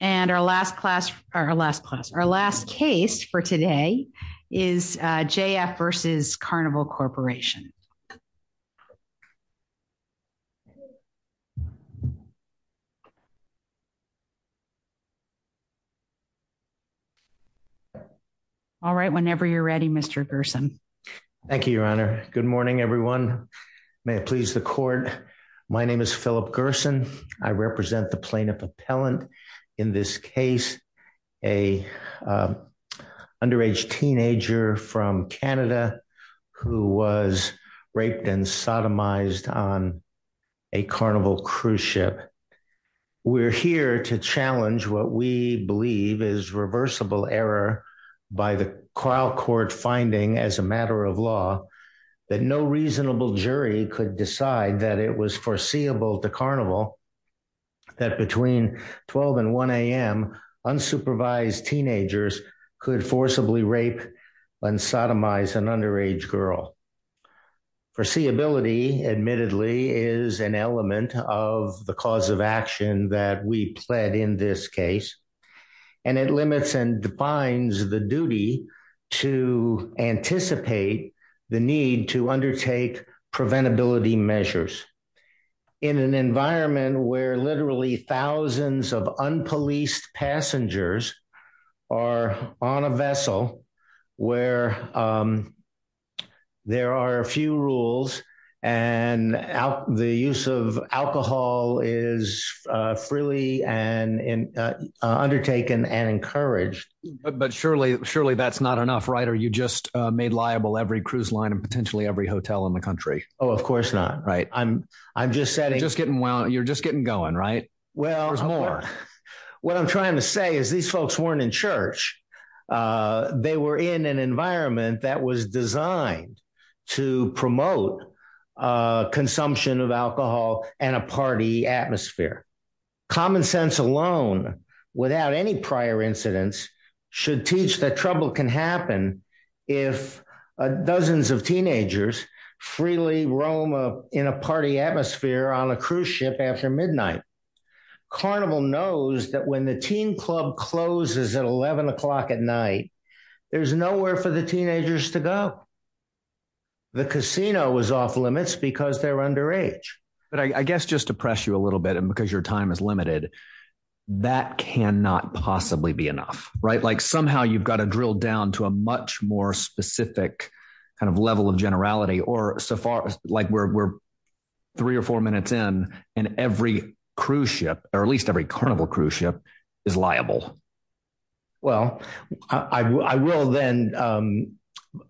And our last class, our last class, our last case for today is JF v. Carnival Corporation. All right, whenever you're ready, Mr. Gerson. Thank you, Your Honor. Good morning, everyone. May it please the court. My name is Philip Gerson. I represent the plaintiff appellant in this case, a underage teenager from Canada who was raped and sodomized on a Carnival cruise ship. We're here to challenge what we believe is reversible error by the trial court finding, as a matter of law, that no reasonable jury could decide that it was foreseeable to Carnival that between 12 and 1 a.m. unsupervised teenagers could forcibly rape and sodomize an underage girl. Foreseeability, admittedly, is an element of the cause of action that we pled in this case, and it limits and defines the duty to anticipate the need to undertake preventability measures in an environment where literally thousands of unpoliced passengers are on a vessel where um there are a few rules and out the use of alcohol is uh freely and in uh undertaken and encouraged but surely surely that's not enough right or you just uh made liable every cruise line and potentially every hotel in the country oh of course not right i'm i'm just setting just getting well you're just getting going right well there's more what i'm trying to say is these folks weren't in church uh they were in an environment that was designed to promote uh consumption of alcohol and a party atmosphere common sense alone without any prior incidents should teach that trouble can happen if dozens of teenagers freely roam in a party atmosphere on a cruise ship after midnight carnival knows that when the teen club closes at 11 o'clock at night there's nowhere for the teenagers to go the casino was off limits because they're underage but i guess just to press you a little bit and because your time is limited that cannot possibly be enough right like somehow you've got to drill down to a much more specific kind of level of generality or so far like we're three or four minutes in and every cruise ship or at least every carnival cruise ship is liable well i i will then um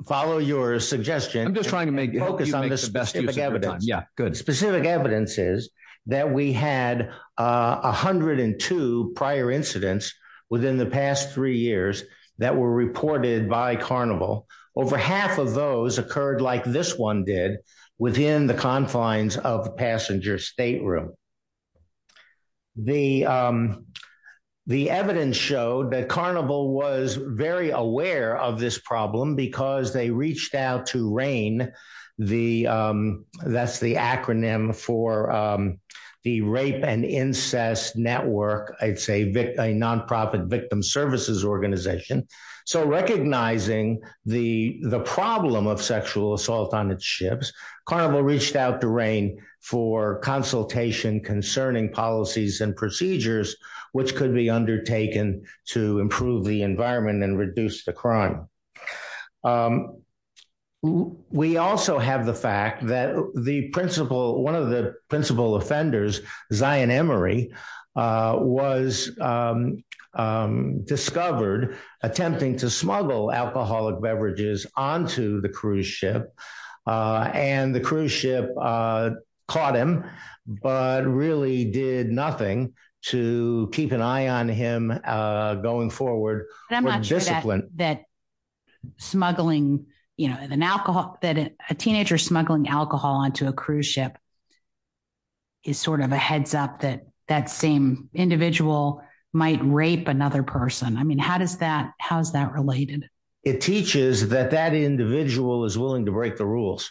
follow your suggestion i'm just trying to make you focus on this best evidence yeah good specific evidence is that we had uh 102 prior incidents within the three years that were reported by carnival over half of those occurred like this one did within the confines of passenger stateroom the um the evidence showed that carnival was very aware of this problem because they reached out to reign the um that's the acronym for um the rape and incest network i'd say a non-profit victim services organization so recognizing the the problem of sexual assault on its ships carnival reached out to rain for consultation concerning policies and procedures which could be undertaken to improve the environment and reduce the crime um we also have the fact that the principle one of the principal offenders zion emory uh was um um discovered attempting to smuggle alcoholic beverages onto the cruise ship uh and the cruise ship uh caught him but really did nothing to keep an eye on him uh going forward but i'm not sure that smuggling you know an alcohol that a teenager smuggling alcohol onto a cruise ship is sort of a heads up that that same individual might rape another person i mean how does that how is that related it teaches that that individual is willing to break the rules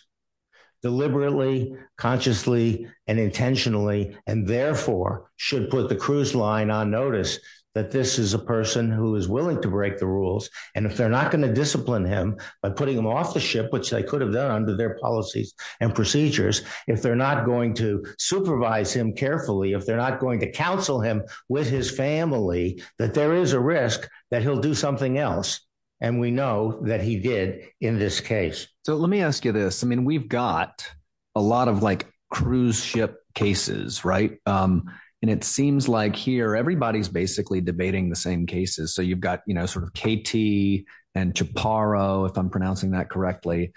deliberately consciously and intentionally and therefore should put the cruise line on notice that this is a person who is willing to break the rules and if they're not going to discipline him by putting him off the ship which they could have done under their policies and procedures if they're not going to supervise him carefully if they're not going to counsel him with his family that there is a risk that he'll do something else and we know that he did in this case so let me ask you this i mean we've got a lot of like cruise ship cases right um and it seems like here everybody's basically debating the same cases so you've got you know sort of kt and chaparro if i'm pronouncing that correctly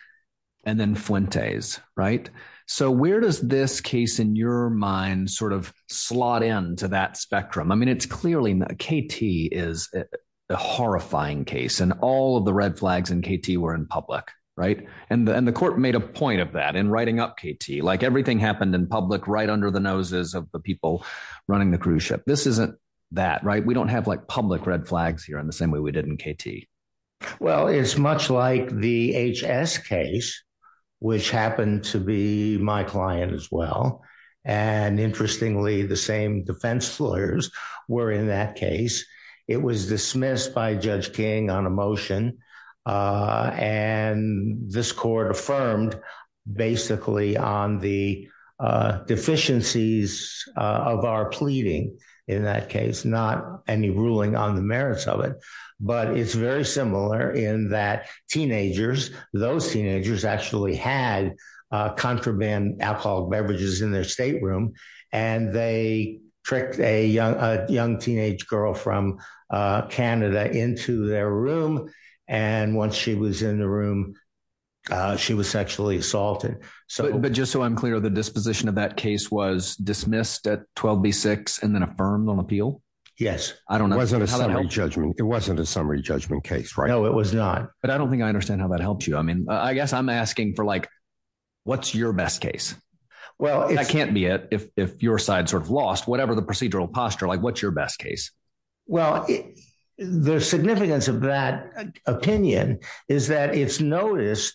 and then fuentes right so where does this case in your mind sort of slot into that spectrum i mean it's clearly kt is a horrifying case and all of the red flags in kt were in public right and the court made a point of that in writing up kt like everything happened in public right under the noses of the people running the cruise ship this isn't that right we don't have like public red flags here in the same way we did in kt well it's much like the hs case which happened to be my client as well and interestingly the same defense lawyers were in that case it was dismissed by judge king on a motion and this court affirmed basically on the deficiencies of our pleading in that case not any ruling on the merits of it but it's very similar in that teenagers those teenagers actually had uh contraband alcoholic beverages in their state room and they tricked a young a young teenage girl from uh canada into their room and once she was in the room uh she was sexually assaulted so but just so i'm clear the disposition of that case was dismissed at 12b6 and then affirmed on appeal yes i don't know it wasn't a summary judgment it wasn't a summary judgment case right no it was not but i don't think i understand how that helps you i mean i guess i'm asking for like what's your best case well it can't be it if if your side sort of lost whatever the procedural posture like what's your best case well the significance of that opinion is that it's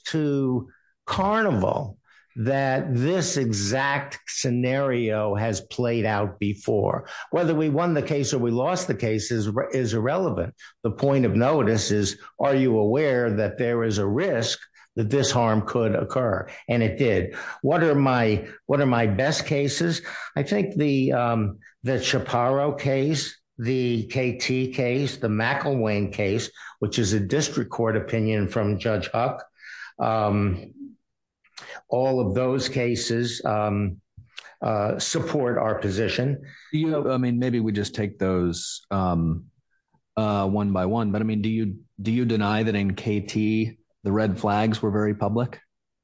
to carnival that this exact scenario has played out before whether we won the case or we lost the case is irrelevant the point of notice is are you aware that there is a risk that this harm could occur and it did what are my what are my best cases i think the um the chaparro case the kt case the macklewain case which is a district court opinion from judge huck um all of those cases um support our position you know i mean maybe we just take those um uh one by one but i mean do you do you deny that in kt the red flags were very public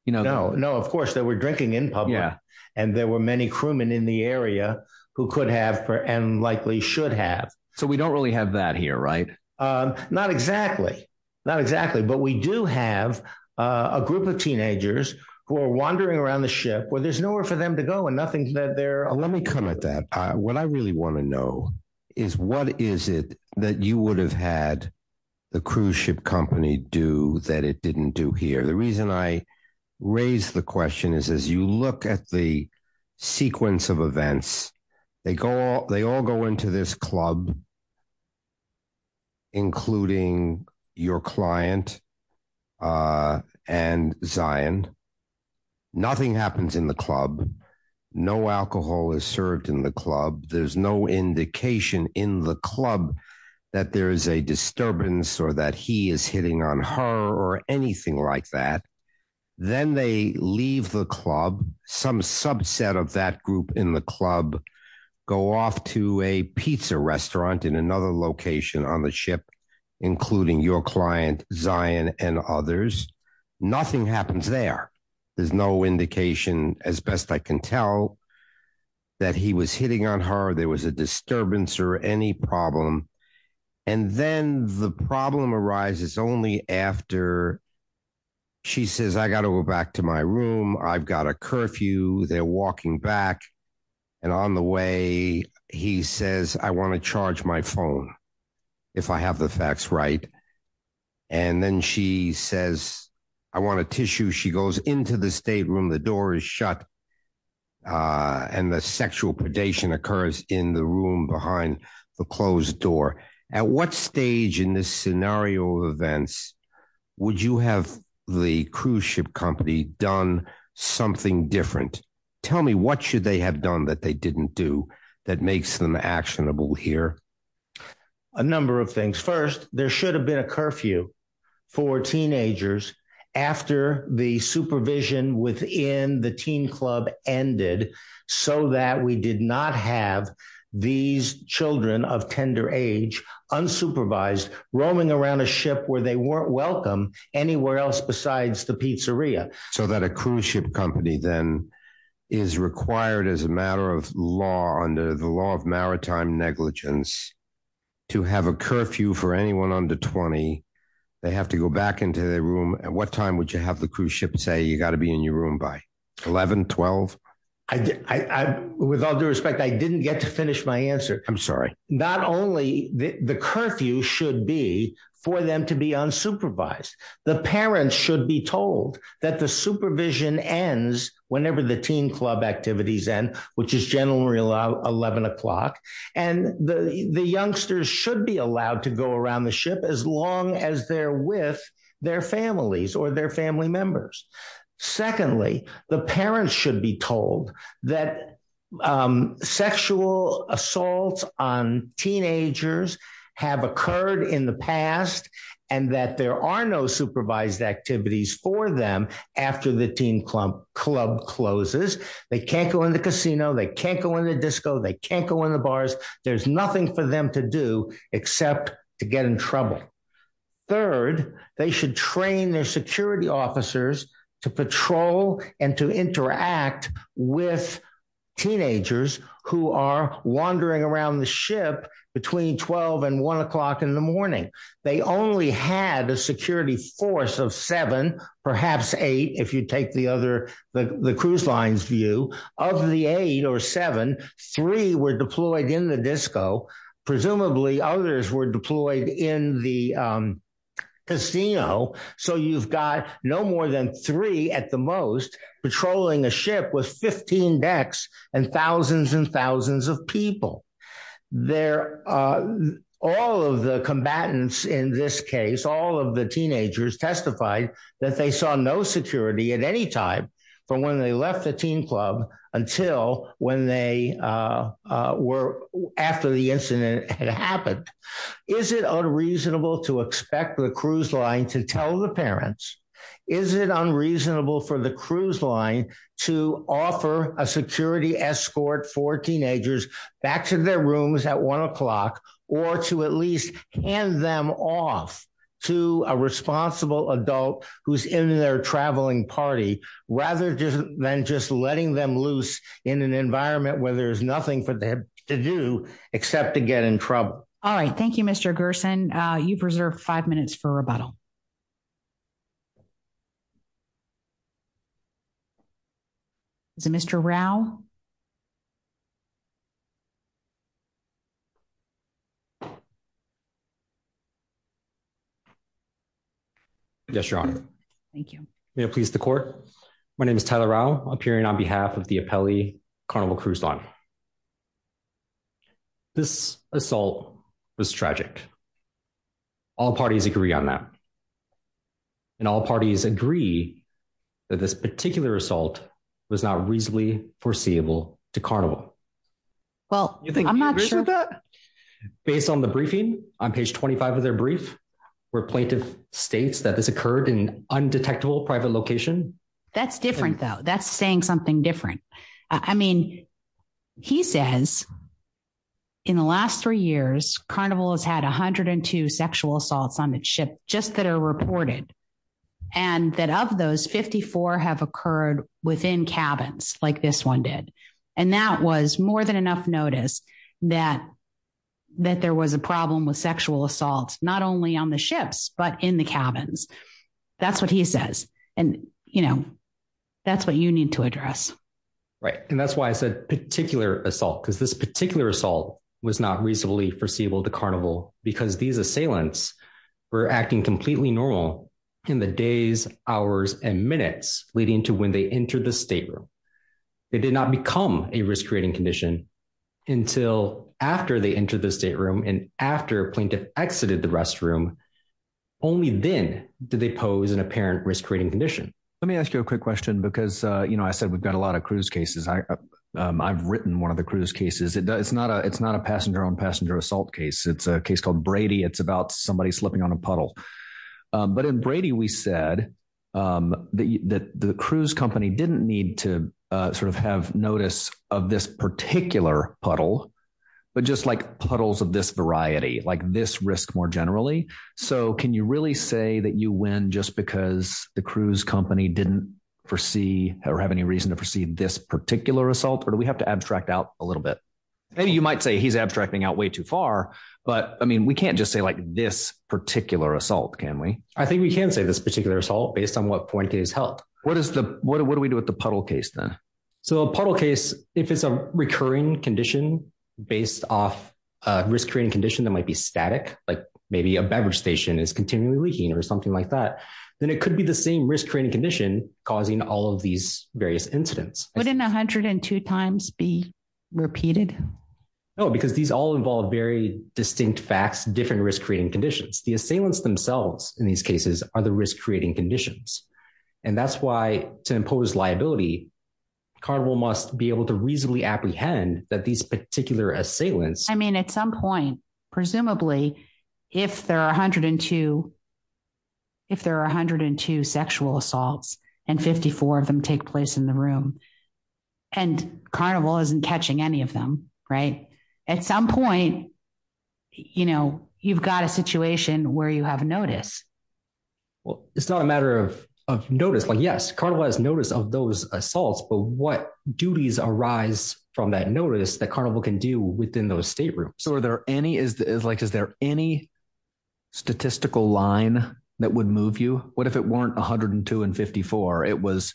you know no no of course they were drinking in public and there were many crewmen in the area who could have and likely should have so we don't really have that here right um not exactly not exactly but we do have uh a group of teenagers who are wandering around the ship where there's nowhere for them to go and nothing's that they're let me come at that uh what i really want to know is what is it that you would have had the cruise ship company do that it didn't do here the reason i raise the question is as you look at the sequence of events they go they all go into this club including your client uh and zion nothing happens in the club no alcohol is served in the club there's no indication in the club that there is a disturbance or that he is hitting on her or anything like that then they leave the club some subset of that group in the club go off to a pizza restaurant in another location on the ship including your client zion and others nothing happens there there's no indication as best i can tell that he was hitting on her there was a disturbance or any problem and then the problem arises only after she says i gotta go back to my room i've got a curfew they're walking back and on the way he says i want to charge my phone if i have the facts right and then she says i want a tissue she goes into the state room the is shut uh and the sexual predation occurs in the room behind the closed door at what stage in this scenario of events would you have the cruise ship company done something different tell me what should they have done that they didn't do that makes them actionable here a number of things first there should have been a curfew for teenagers after the supervision within the teen club ended so that we did not have these children of tender age unsupervised roaming around a ship where they weren't welcome anywhere else besides the pizzeria so that a cruise ship company then is required as a matter of law under the law of maritime negligence to have a curfew for anyone under 20 they have to go back into their room at what time would you the cruise ship and say you got to be in your room by 11 12 i i with all due respect i didn't get to finish my answer i'm sorry not only the curfew should be for them to be unsupervised the parents should be told that the supervision ends whenever the teen club activities end which is generally allowed 11 o'clock and the the youngsters should be allowed to go around the as long as they're with their families or their family members secondly the parents should be told that sexual assaults on teenagers have occurred in the past and that there are no supervised activities for them after the teen club club closes they can't go in the casino they can't in the disco they can't go in the bars there's nothing for them to do except to get in trouble third they should train their security officers to patrol and to interact with teenagers who are wandering around the ship between 12 and one o'clock in the morning they only had a security force of seven perhaps eight if you take the other the cruise lines view of the eight or seven three were deployed in the disco presumably others were deployed in the casino so you've got no more than three at the most patrolling a ship with 15 decks and thousands and thousands of people there are all of the combatants in this case all of the teenagers testified that they saw no security at any time from when they left the teen club until when they were after the incident had happened is it unreasonable to expect the cruise line to tell the parents is it unreasonable for the cruise line to offer a security escort for teenagers back to their rooms at one o'clock or to at least hand them off to a responsible adult who's in their traveling party rather than just letting them loose in an environment where there's nothing for them to do except to get in trouble all right thank you mr gerson uh you preserve five minutes for rebuttal is it mr rao yes your honor thank you may it please the court my name is tyler rao appearing on behalf of the appellee carnival cruise line this assault was tragic all parties agree on that and all parties agree that this particular assault was not reasonably foreseeable to carnival well you think i'm not sure that based on the briefing on page 25 of their brief where plaintiff states that this occurred in undetectable private location that's different though that's saying something different i mean he says in the last three years carnival has had 102 sexual assaults on its ship just that are reported and that of those 54 have occurred within cabins like this one did and that was more than enough notice that that there was a problem with sexual assault not only on the ships but in the cabins that's what he says and you know that's what you need to address right and that's why i said particular assault because this particular assault was not reasonably foreseeable to carnival because these assailants were acting completely normal in the days hours and minutes leading to when they entered the stateroom it did not become a risk-creating condition until after they entered the stateroom and after plaintiff exited the restroom only then did they pose an apparent risk-creating condition let me ask you a quick question because uh you know i said we've got a i've written one of the cruise cases it's not a it's not a passenger on passenger assault case it's a case called brady it's about somebody slipping on a puddle but in brady we said um that the cruise company didn't need to uh sort of have notice of this particular puddle but just like puddles of this variety like this risk more generally so can you really say that you win just because the cruise company didn't foresee or have any reason to foresee this particular assault or do we have to abstract out a little bit maybe you might say he's abstracting out way too far but i mean we can't just say like this particular assault can we i think we can say this particular assault based on what point it is held what is the what do we do with the puddle case then so a puddle case if it's a recurring condition based off a risk-creating condition that might be static like maybe a beverage station is continually leaking or something like that then it could be the same risk-creating condition causing all of these various incidents wouldn't 102 times be repeated no because these all involve very distinct facts different risk-creating conditions the assailants themselves in these cases are the risk-creating conditions and that's why to impose liability carnival must be able to reasonably apprehend that these particular assailants i mean at some point presumably if there are 102 if there are 102 sexual assaults and 54 of them take place in the room and carnival isn't catching any of them right at some point you know you've got a situation where you have notice well it's not a matter of of notice like yes carnival has notice of those assaults but what duties arise from that notice that carnival can do within those state rooms so are there any is like is there any statistical line that would move you what if it weren't 102 and 54 it was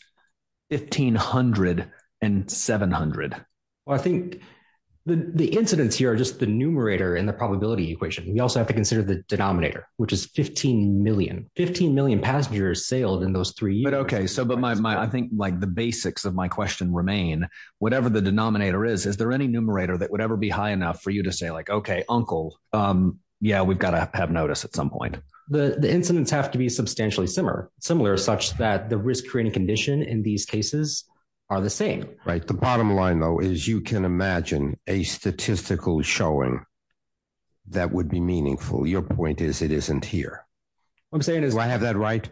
1500 and 700 well i think the the incidents here are just the numerator and the probability equation we also have to consider the denominator which is 15 million 15 million passengers sailed in those three but okay so but my i think like the basics of my question remain whatever the denominator is is there any numerator that would ever be high enough for you to say like okay uncle um yeah we've got to have notice at some point the the incidents have to be substantially similar similar such that the risk-creating condition in these cases are the same right the bottom line though is you can imagine a statistical showing that would be meaningful your point is it isn't here i'm saying do i have that right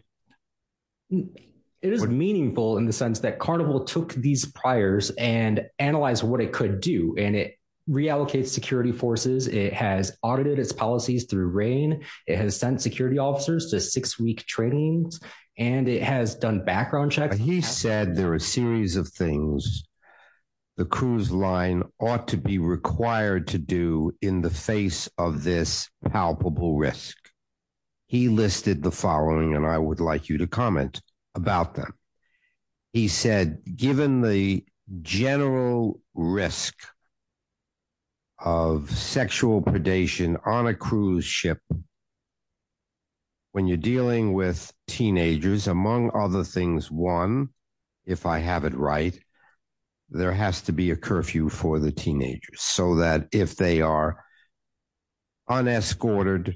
it is meaningful in the sense that carnival took these priors and analyzed what it could do and it reallocates security forces it has audited its policies through rain it has sent security officers to six-week trainings and it has done background checks he said there are a series of things the cruise line ought to be required to do in the face of this palpable risk he listed the and i would like you to comment about them he said given the general risk of sexual predation on a cruise ship when you're dealing with teenagers among other things one if i have it right there has to be a curfew for the teenagers so that if they are unescorted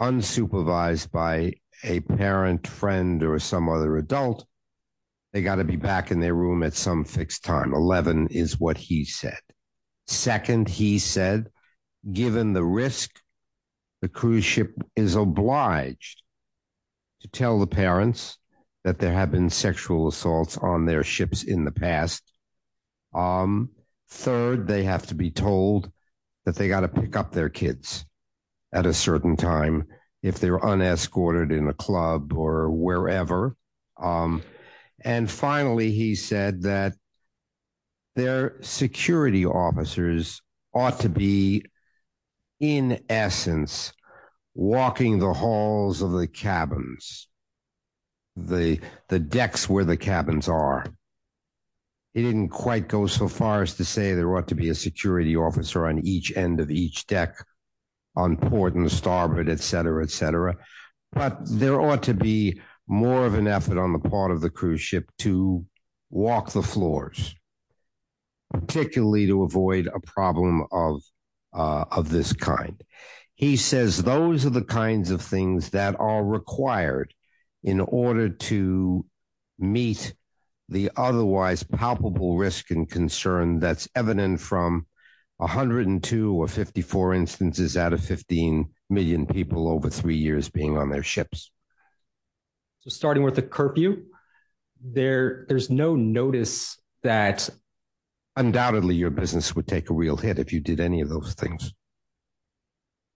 unsupervised by a parent friend or some other adult they got to be back in their room at some fixed time 11 is what he said second he said given the risk the cruise ship is obliged to tell the parents that there have been sexual assaults on their ships in the past um third they have to be told that they got to pick up their kids at a certain time if they're unescorted in a club or wherever um and finally he said that their security officers ought to be in essence walking the halls of the cabins the the decks where the cabins are he didn't quite go so far as to say there ought to be a security officer on each end of each deck on port and starboard etc etc but there ought to be more of an effort on the part of the cruise ship to walk the floors particularly to avoid a problem of uh of this kind he says those are the kinds of things that are required in order to meet the otherwise palpable risk and concern that's evident from 102 or 54 instances out of 15 million people over three years being on their ships so starting with the curfew there there's no notice that undoubtedly your business would take a real hit if you did any of those things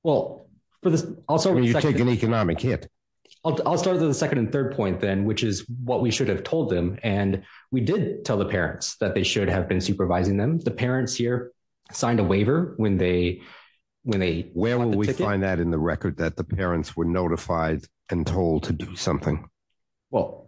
well for this also you take an economic hit i'll start with the second and third point then which is what we should have told them and we did tell the parents that they should have been supervising them the parents here signed a waiver when they when they where will we find that in the record that the parents were notified and told to do something well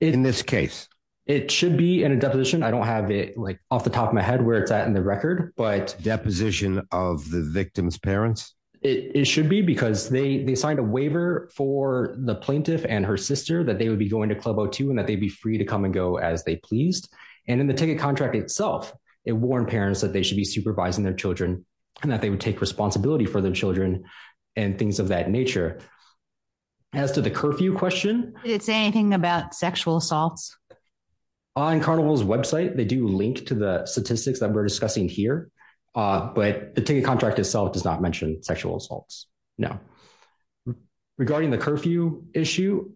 in this case it should be in a deposition i don't have it like off the top of my head where it's at in the record but deposition of the victim's parents it should be because they they signed a waiver for the plaintiff and her sister that they would be going to club o2 and that they'd be free to come and go as they pleased and in the ticket contract itself it warned parents that they should be supervising their children and that they would take responsibility for their children and things of that nature as to the curfew question did it say anything about sexual assaults on carnival's website they do link to the statistics that we're discussing here but the ticket contract itself does not mention sexual assaults now regarding the curfew issue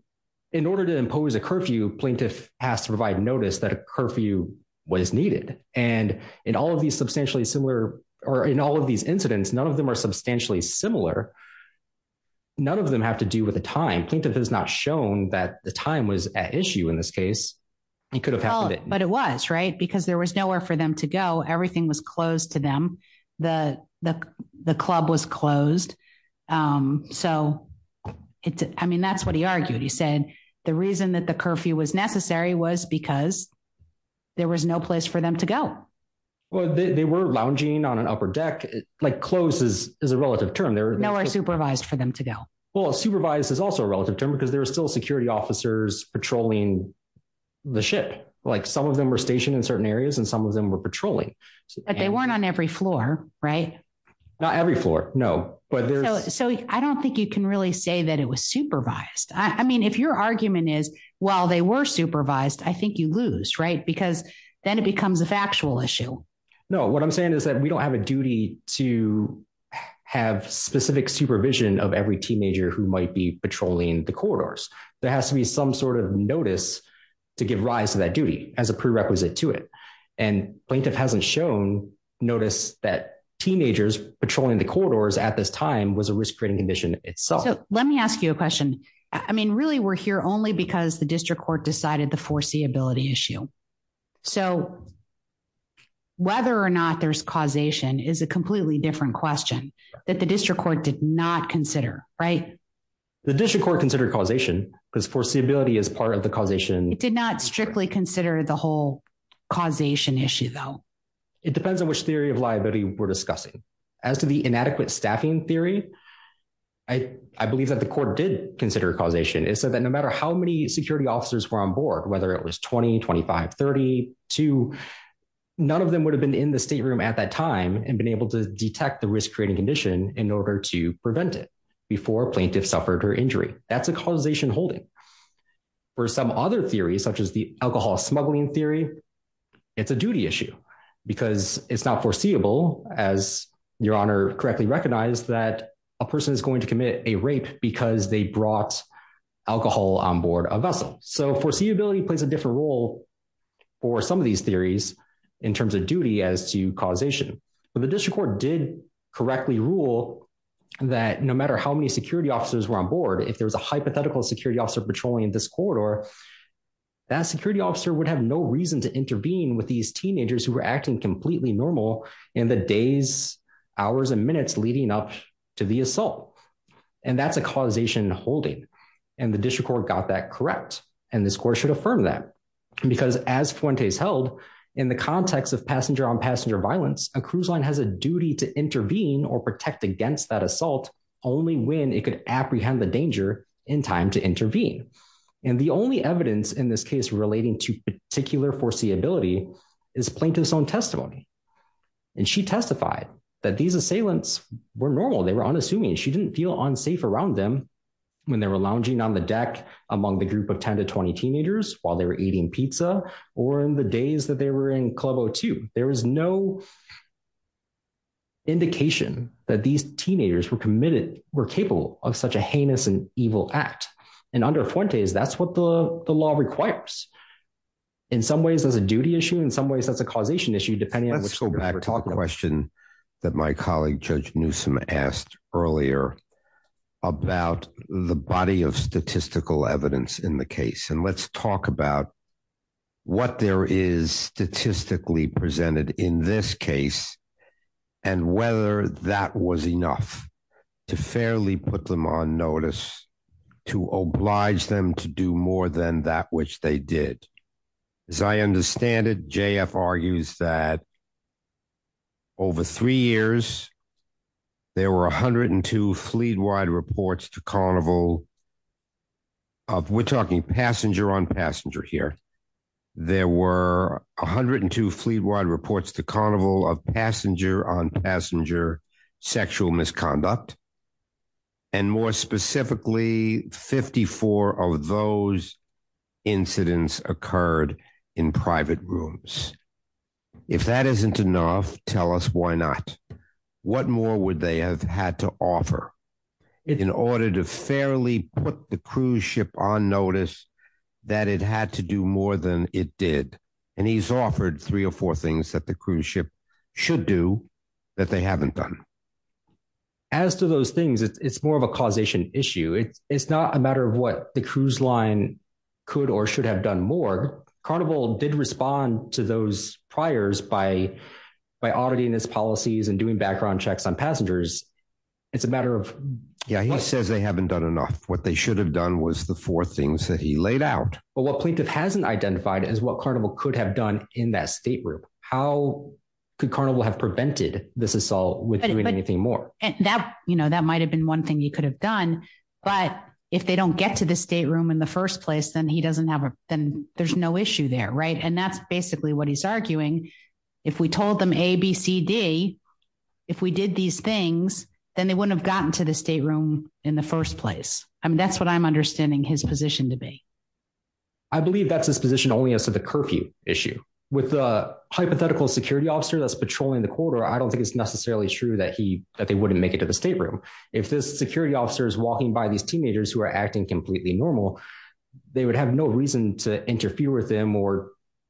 in order to impose a curfew plaintiff has to provide notice that a curfew was needed and in these substantially similar or in all of these incidents none of them are substantially similar none of them have to do with the time plaintiff has not shown that the time was at issue in this case he could have happened but it was right because there was nowhere for them to go everything was closed to them the the club was closed um so it's i mean that's what he argued he said the reason that the curfew was necessary was because there was no place for them to go well they were lounging on an upper deck like close is is a relative term they're nowhere supervised for them to go well supervised is also a relative term because there are still security officers patrolling the ship like some of them were stationed in certain areas and some of them were patrolling but they weren't on every floor right not every floor no but there's so i don't think you can really say that it was supervised i mean if your argument is while they were i think you lose right because then it becomes a factual issue no what i'm saying is that we don't have a duty to have specific supervision of every teenager who might be patrolling the corridors there has to be some sort of notice to give rise to that duty as a prerequisite to it and plaintiff hasn't shown notice that teenagers patrolling the corridors at this time was a risk rating condition itself let me ask you a question i mean really we're here only because the district court decided the foreseeability issue so whether or not there's causation is a completely different question that the district court did not consider right the district court considered causation because foreseeability is part of the causation it did not strictly consider the whole causation issue though it depends on which theory of liability we're discussing as to the inadequate staffing theory i i believe that the court did consider causation it said that no matter how many security officers were on board whether it was 20 25 32 none of them would have been in the state room at that time and been able to detect the risk creating condition in order to prevent it before plaintiff suffered her injury that's a causation holding for some other theories such as the alcohol smuggling theory it's a duty issue because it's not foreseeable as your honor correctly recognized that a person is going to commit a rape because they brought alcohol on board a vessel so foreseeability plays a different role for some of these theories in terms of duty as to causation but the district court did correctly rule that no matter how many security officers were on board if there was a hypothetical security officer patrolling in this corridor that security officer would have no reason to intervene with these teenagers who were acting completely normal in the days hours and minutes leading up to the assault and that's a causation holding and the district court got that correct and this court should affirm that because as Fuentes held in the context of passenger-on-passenger violence a cruise line has a duty to intervene or protect against that assault only when it could apprehend the danger in time to intervene and the only evidence in this case relating to particular foreseeability is plaintiff's own testimony and she testified that these assailants were normal they were unassuming she didn't feel unsafe around them when they were lounging on the deck among the group of 10 to 20 teenagers while they were eating pizza or in the days that they were in club o2 there was no indication that these teenagers were committed were capable of such a heinous and evil act and under Fuentes that's what the law requires in some ways there's a duty issue in some ways that's a causation issue depending on let's go back to a question that my colleague Judge Newsome asked earlier about the body of statistical evidence in the case and let's talk about what there is statistically presented in this case and whether that was enough to fairly put them on notice to oblige them to do more than that which they did as I understand it JF argues that over three years there were 102 fleet-wide reports to carnival of we're talking passenger-on-passenger here there were 102 fleet-wide reports to carnival of passenger-on-passenger sexual misconduct and more specifically 54 of those incidents occurred in private rooms if that isn't enough tell us why not what more would they have had to offer in order to fairly put the cruise ship on notice that it had to do more than it did and he's offered three or four things that the cruise ship should do that they haven't done as to those things it's more of a causation issue it's not a matter of what the cruise line could or should have done more carnival did respond to those priors by by auditing his policies and doing background checks on passengers it's a matter of yeah he says they haven't done enough what they should have done was the four things that he laid out but what plaintiff hasn't identified is what carnival could have done in that state room how could carnival have prevented this assault with doing anything more and that you know that might have been one thing you could have done but if they don't get to the state room in the first place then he doesn't have a then there's no issue there right and that's basically what he's arguing if we told them a b c d if we did these things then they wouldn't have gotten to the state room in the first place I mean that's I'm understanding his position to be I believe that's his position only as to the curfew issue with a hypothetical security officer that's patrolling the corridor I don't think it's necessarily true that he that they wouldn't make it to the state room if this security officer is walking by these teenagers who are acting completely normal they would have no reason to interfere with them or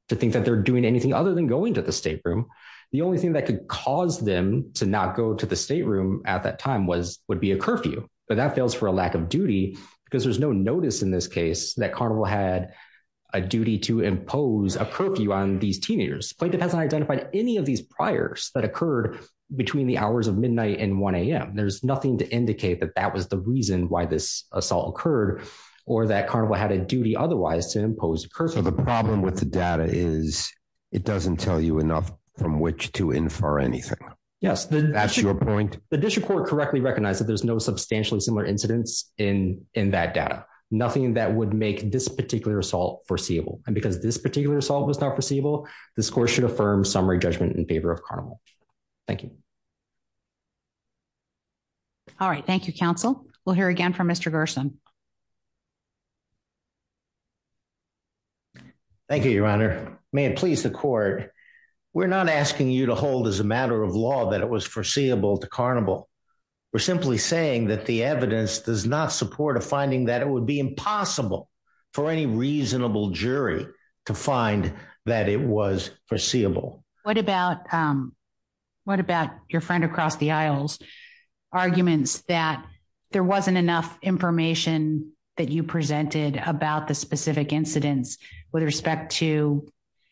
to think that they're doing anything other than going to the state room the only thing that could cause them to not go to the state room at that time was would be a there's no notice in this case that carnival had a duty to impose a curfew on these teenagers plaintiff hasn't identified any of these priors that occurred between the hours of midnight and 1 a.m there's nothing to indicate that that was the reason why this assault occurred or that carnival had a duty otherwise to impose a curse so the problem with the data is it doesn't tell you enough from which to infer anything yes that's your point the district court correctly recognized that there's no substantially similar incidents in in that data nothing that would make this particular assault foreseeable and because this particular assault was not foreseeable this court should affirm summary judgment in favor of carnival thank you all right thank you counsel we'll hear again from mr gerson thank you your honor may it please the court we're not asking you to hold as a matter of law that it was foreseeable to carnival we're simply saying that the evidence does not support a finding that it would be impossible for any reasonable jury to find that it was foreseeable what about what about your friend across the aisles arguments that there wasn't enough information that you presented about the specific incidents with respect to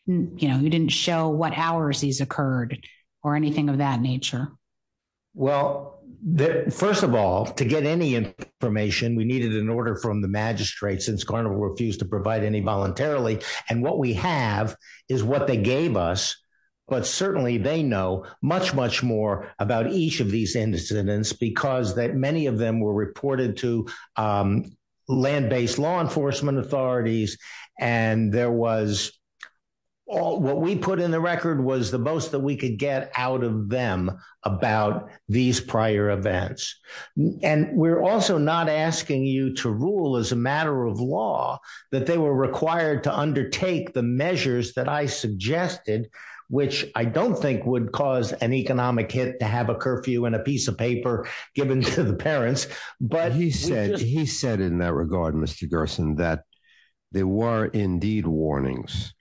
you know you didn't show what occurred or anything of that nature well first of all to get any information we needed an order from the magistrate since carnival refused to provide any voluntarily and what we have is what they gave us but certainly they know much much more about each of these incidents because that many of them were reported to um land-based law enforcement authorities and there was all what we put in the record was the most that we could get out of them about these prior events and we're also not asking you to rule as a matter of law that they were required to undertake the measures that i suggested which i don't think would cause an economic hit to have a curfew and a piece of paper given to the parents but he said he said in that regard mr gerson that there were indeed warnings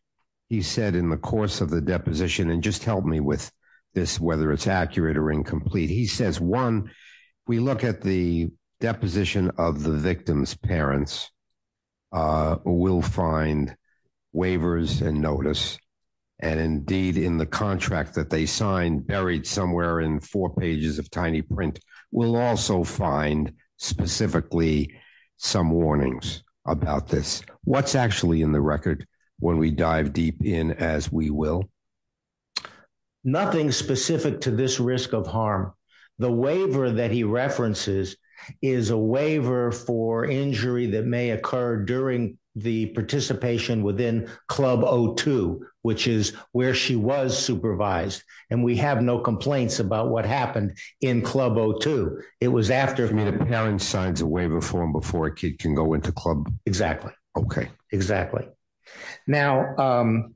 he said in the course of the deposition and just help me with this whether it's accurate or incomplete he says one we look at the deposition of the victim's parents uh will find waivers and notice and indeed in the contract that they signed buried somewhere in four pages of tiny print we'll also find specifically some warnings about this what's actually in the record when we dive deep in as we will nothing specific to this risk of harm the waiver that he references is a waiver for injury that may occur during the participation within club o2 which is where she was supervised and we have no complaints about what happened in club o2 it was after the parent signs a waiver form before a kid can go into club exactly okay exactly now um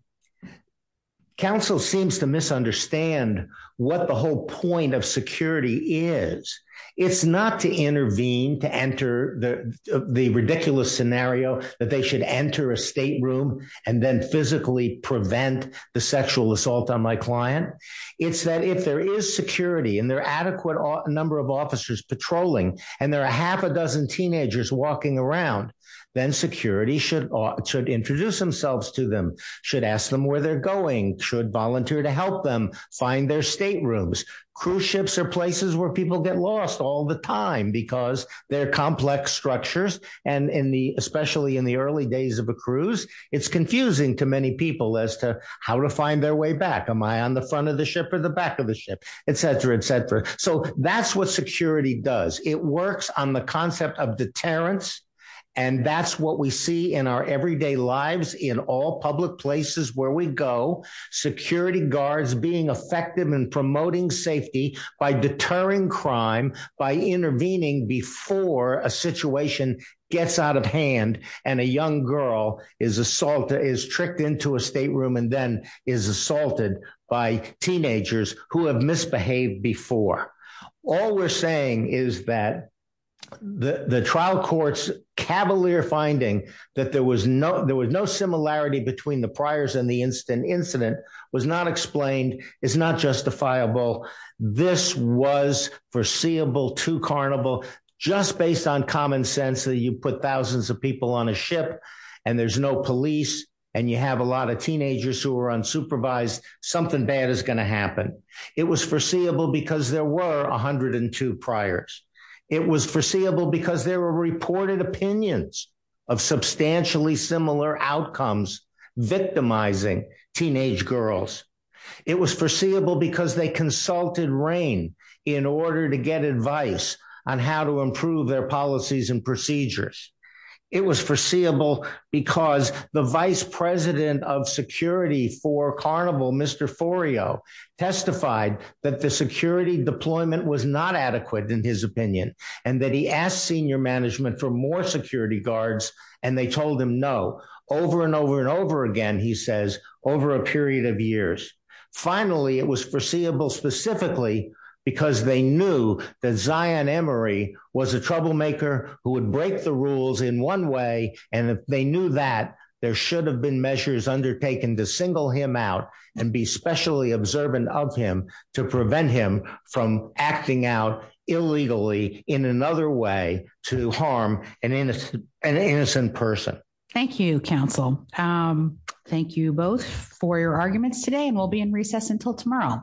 council seems to misunderstand what the whole point of security is it's not to intervene to enter the the ridiculous scenario that they should enter a stateroom and then physically prevent the sexual assault on my client it's that if there is security and there are adequate number of officers patrolling and there are a half a dozen teenagers walking around then security should ought to introduce themselves to them should ask them where they're going should volunteer to help them find their staterooms cruise ships are places where people get lost all the time because they're complex structures and in the especially in the early days of a cruise it's confusing to many people as to how to find their way back am i on the front of the ship or the back of the ship etc etc so that's what security does it works on the concept of deterrence and that's what we see in our everyday lives in all public places where we go security guards being effective in promoting safety by deterring crime by intervening before a situation gets out of hand and a young girl is assaulted is tricked into a stateroom and then is assaulted by teenagers who have misbehaved before all we're saying is that the the trial court's cavalier finding that there was no there was no similarity between the priors and the instant incident was not explained is not justifiable this was foreseeable to carnival just based on common sense that you put thousands of people on a ship and there's no police and you have a lot of teenagers who are unsupervised something bad is going to happen it was foreseeable because there were 102 priors it was foreseeable because there were reported opinions of substantially similar outcomes victimizing teenage girls it was foreseeable because they consulted rain in order to get advice on how to improve their policies and procedures it was foreseeable because the vice president of security for carnival mr foreo testified that the security deployment was not adequate in his opinion and that he asked senior management for more security guards and they told him no over and over and over again he says over a period of years finally it was foreseeable specifically because they knew that zion emory was a troublemaker who would break the rules in one way and if they knew that there should have been measures undertaken to single him out and be specially observant of him to prevent him from acting out illegally in another way to harm an innocent an innocent person thank you counsel um thank you both for your arguments today and we'll be in recess until tomorrow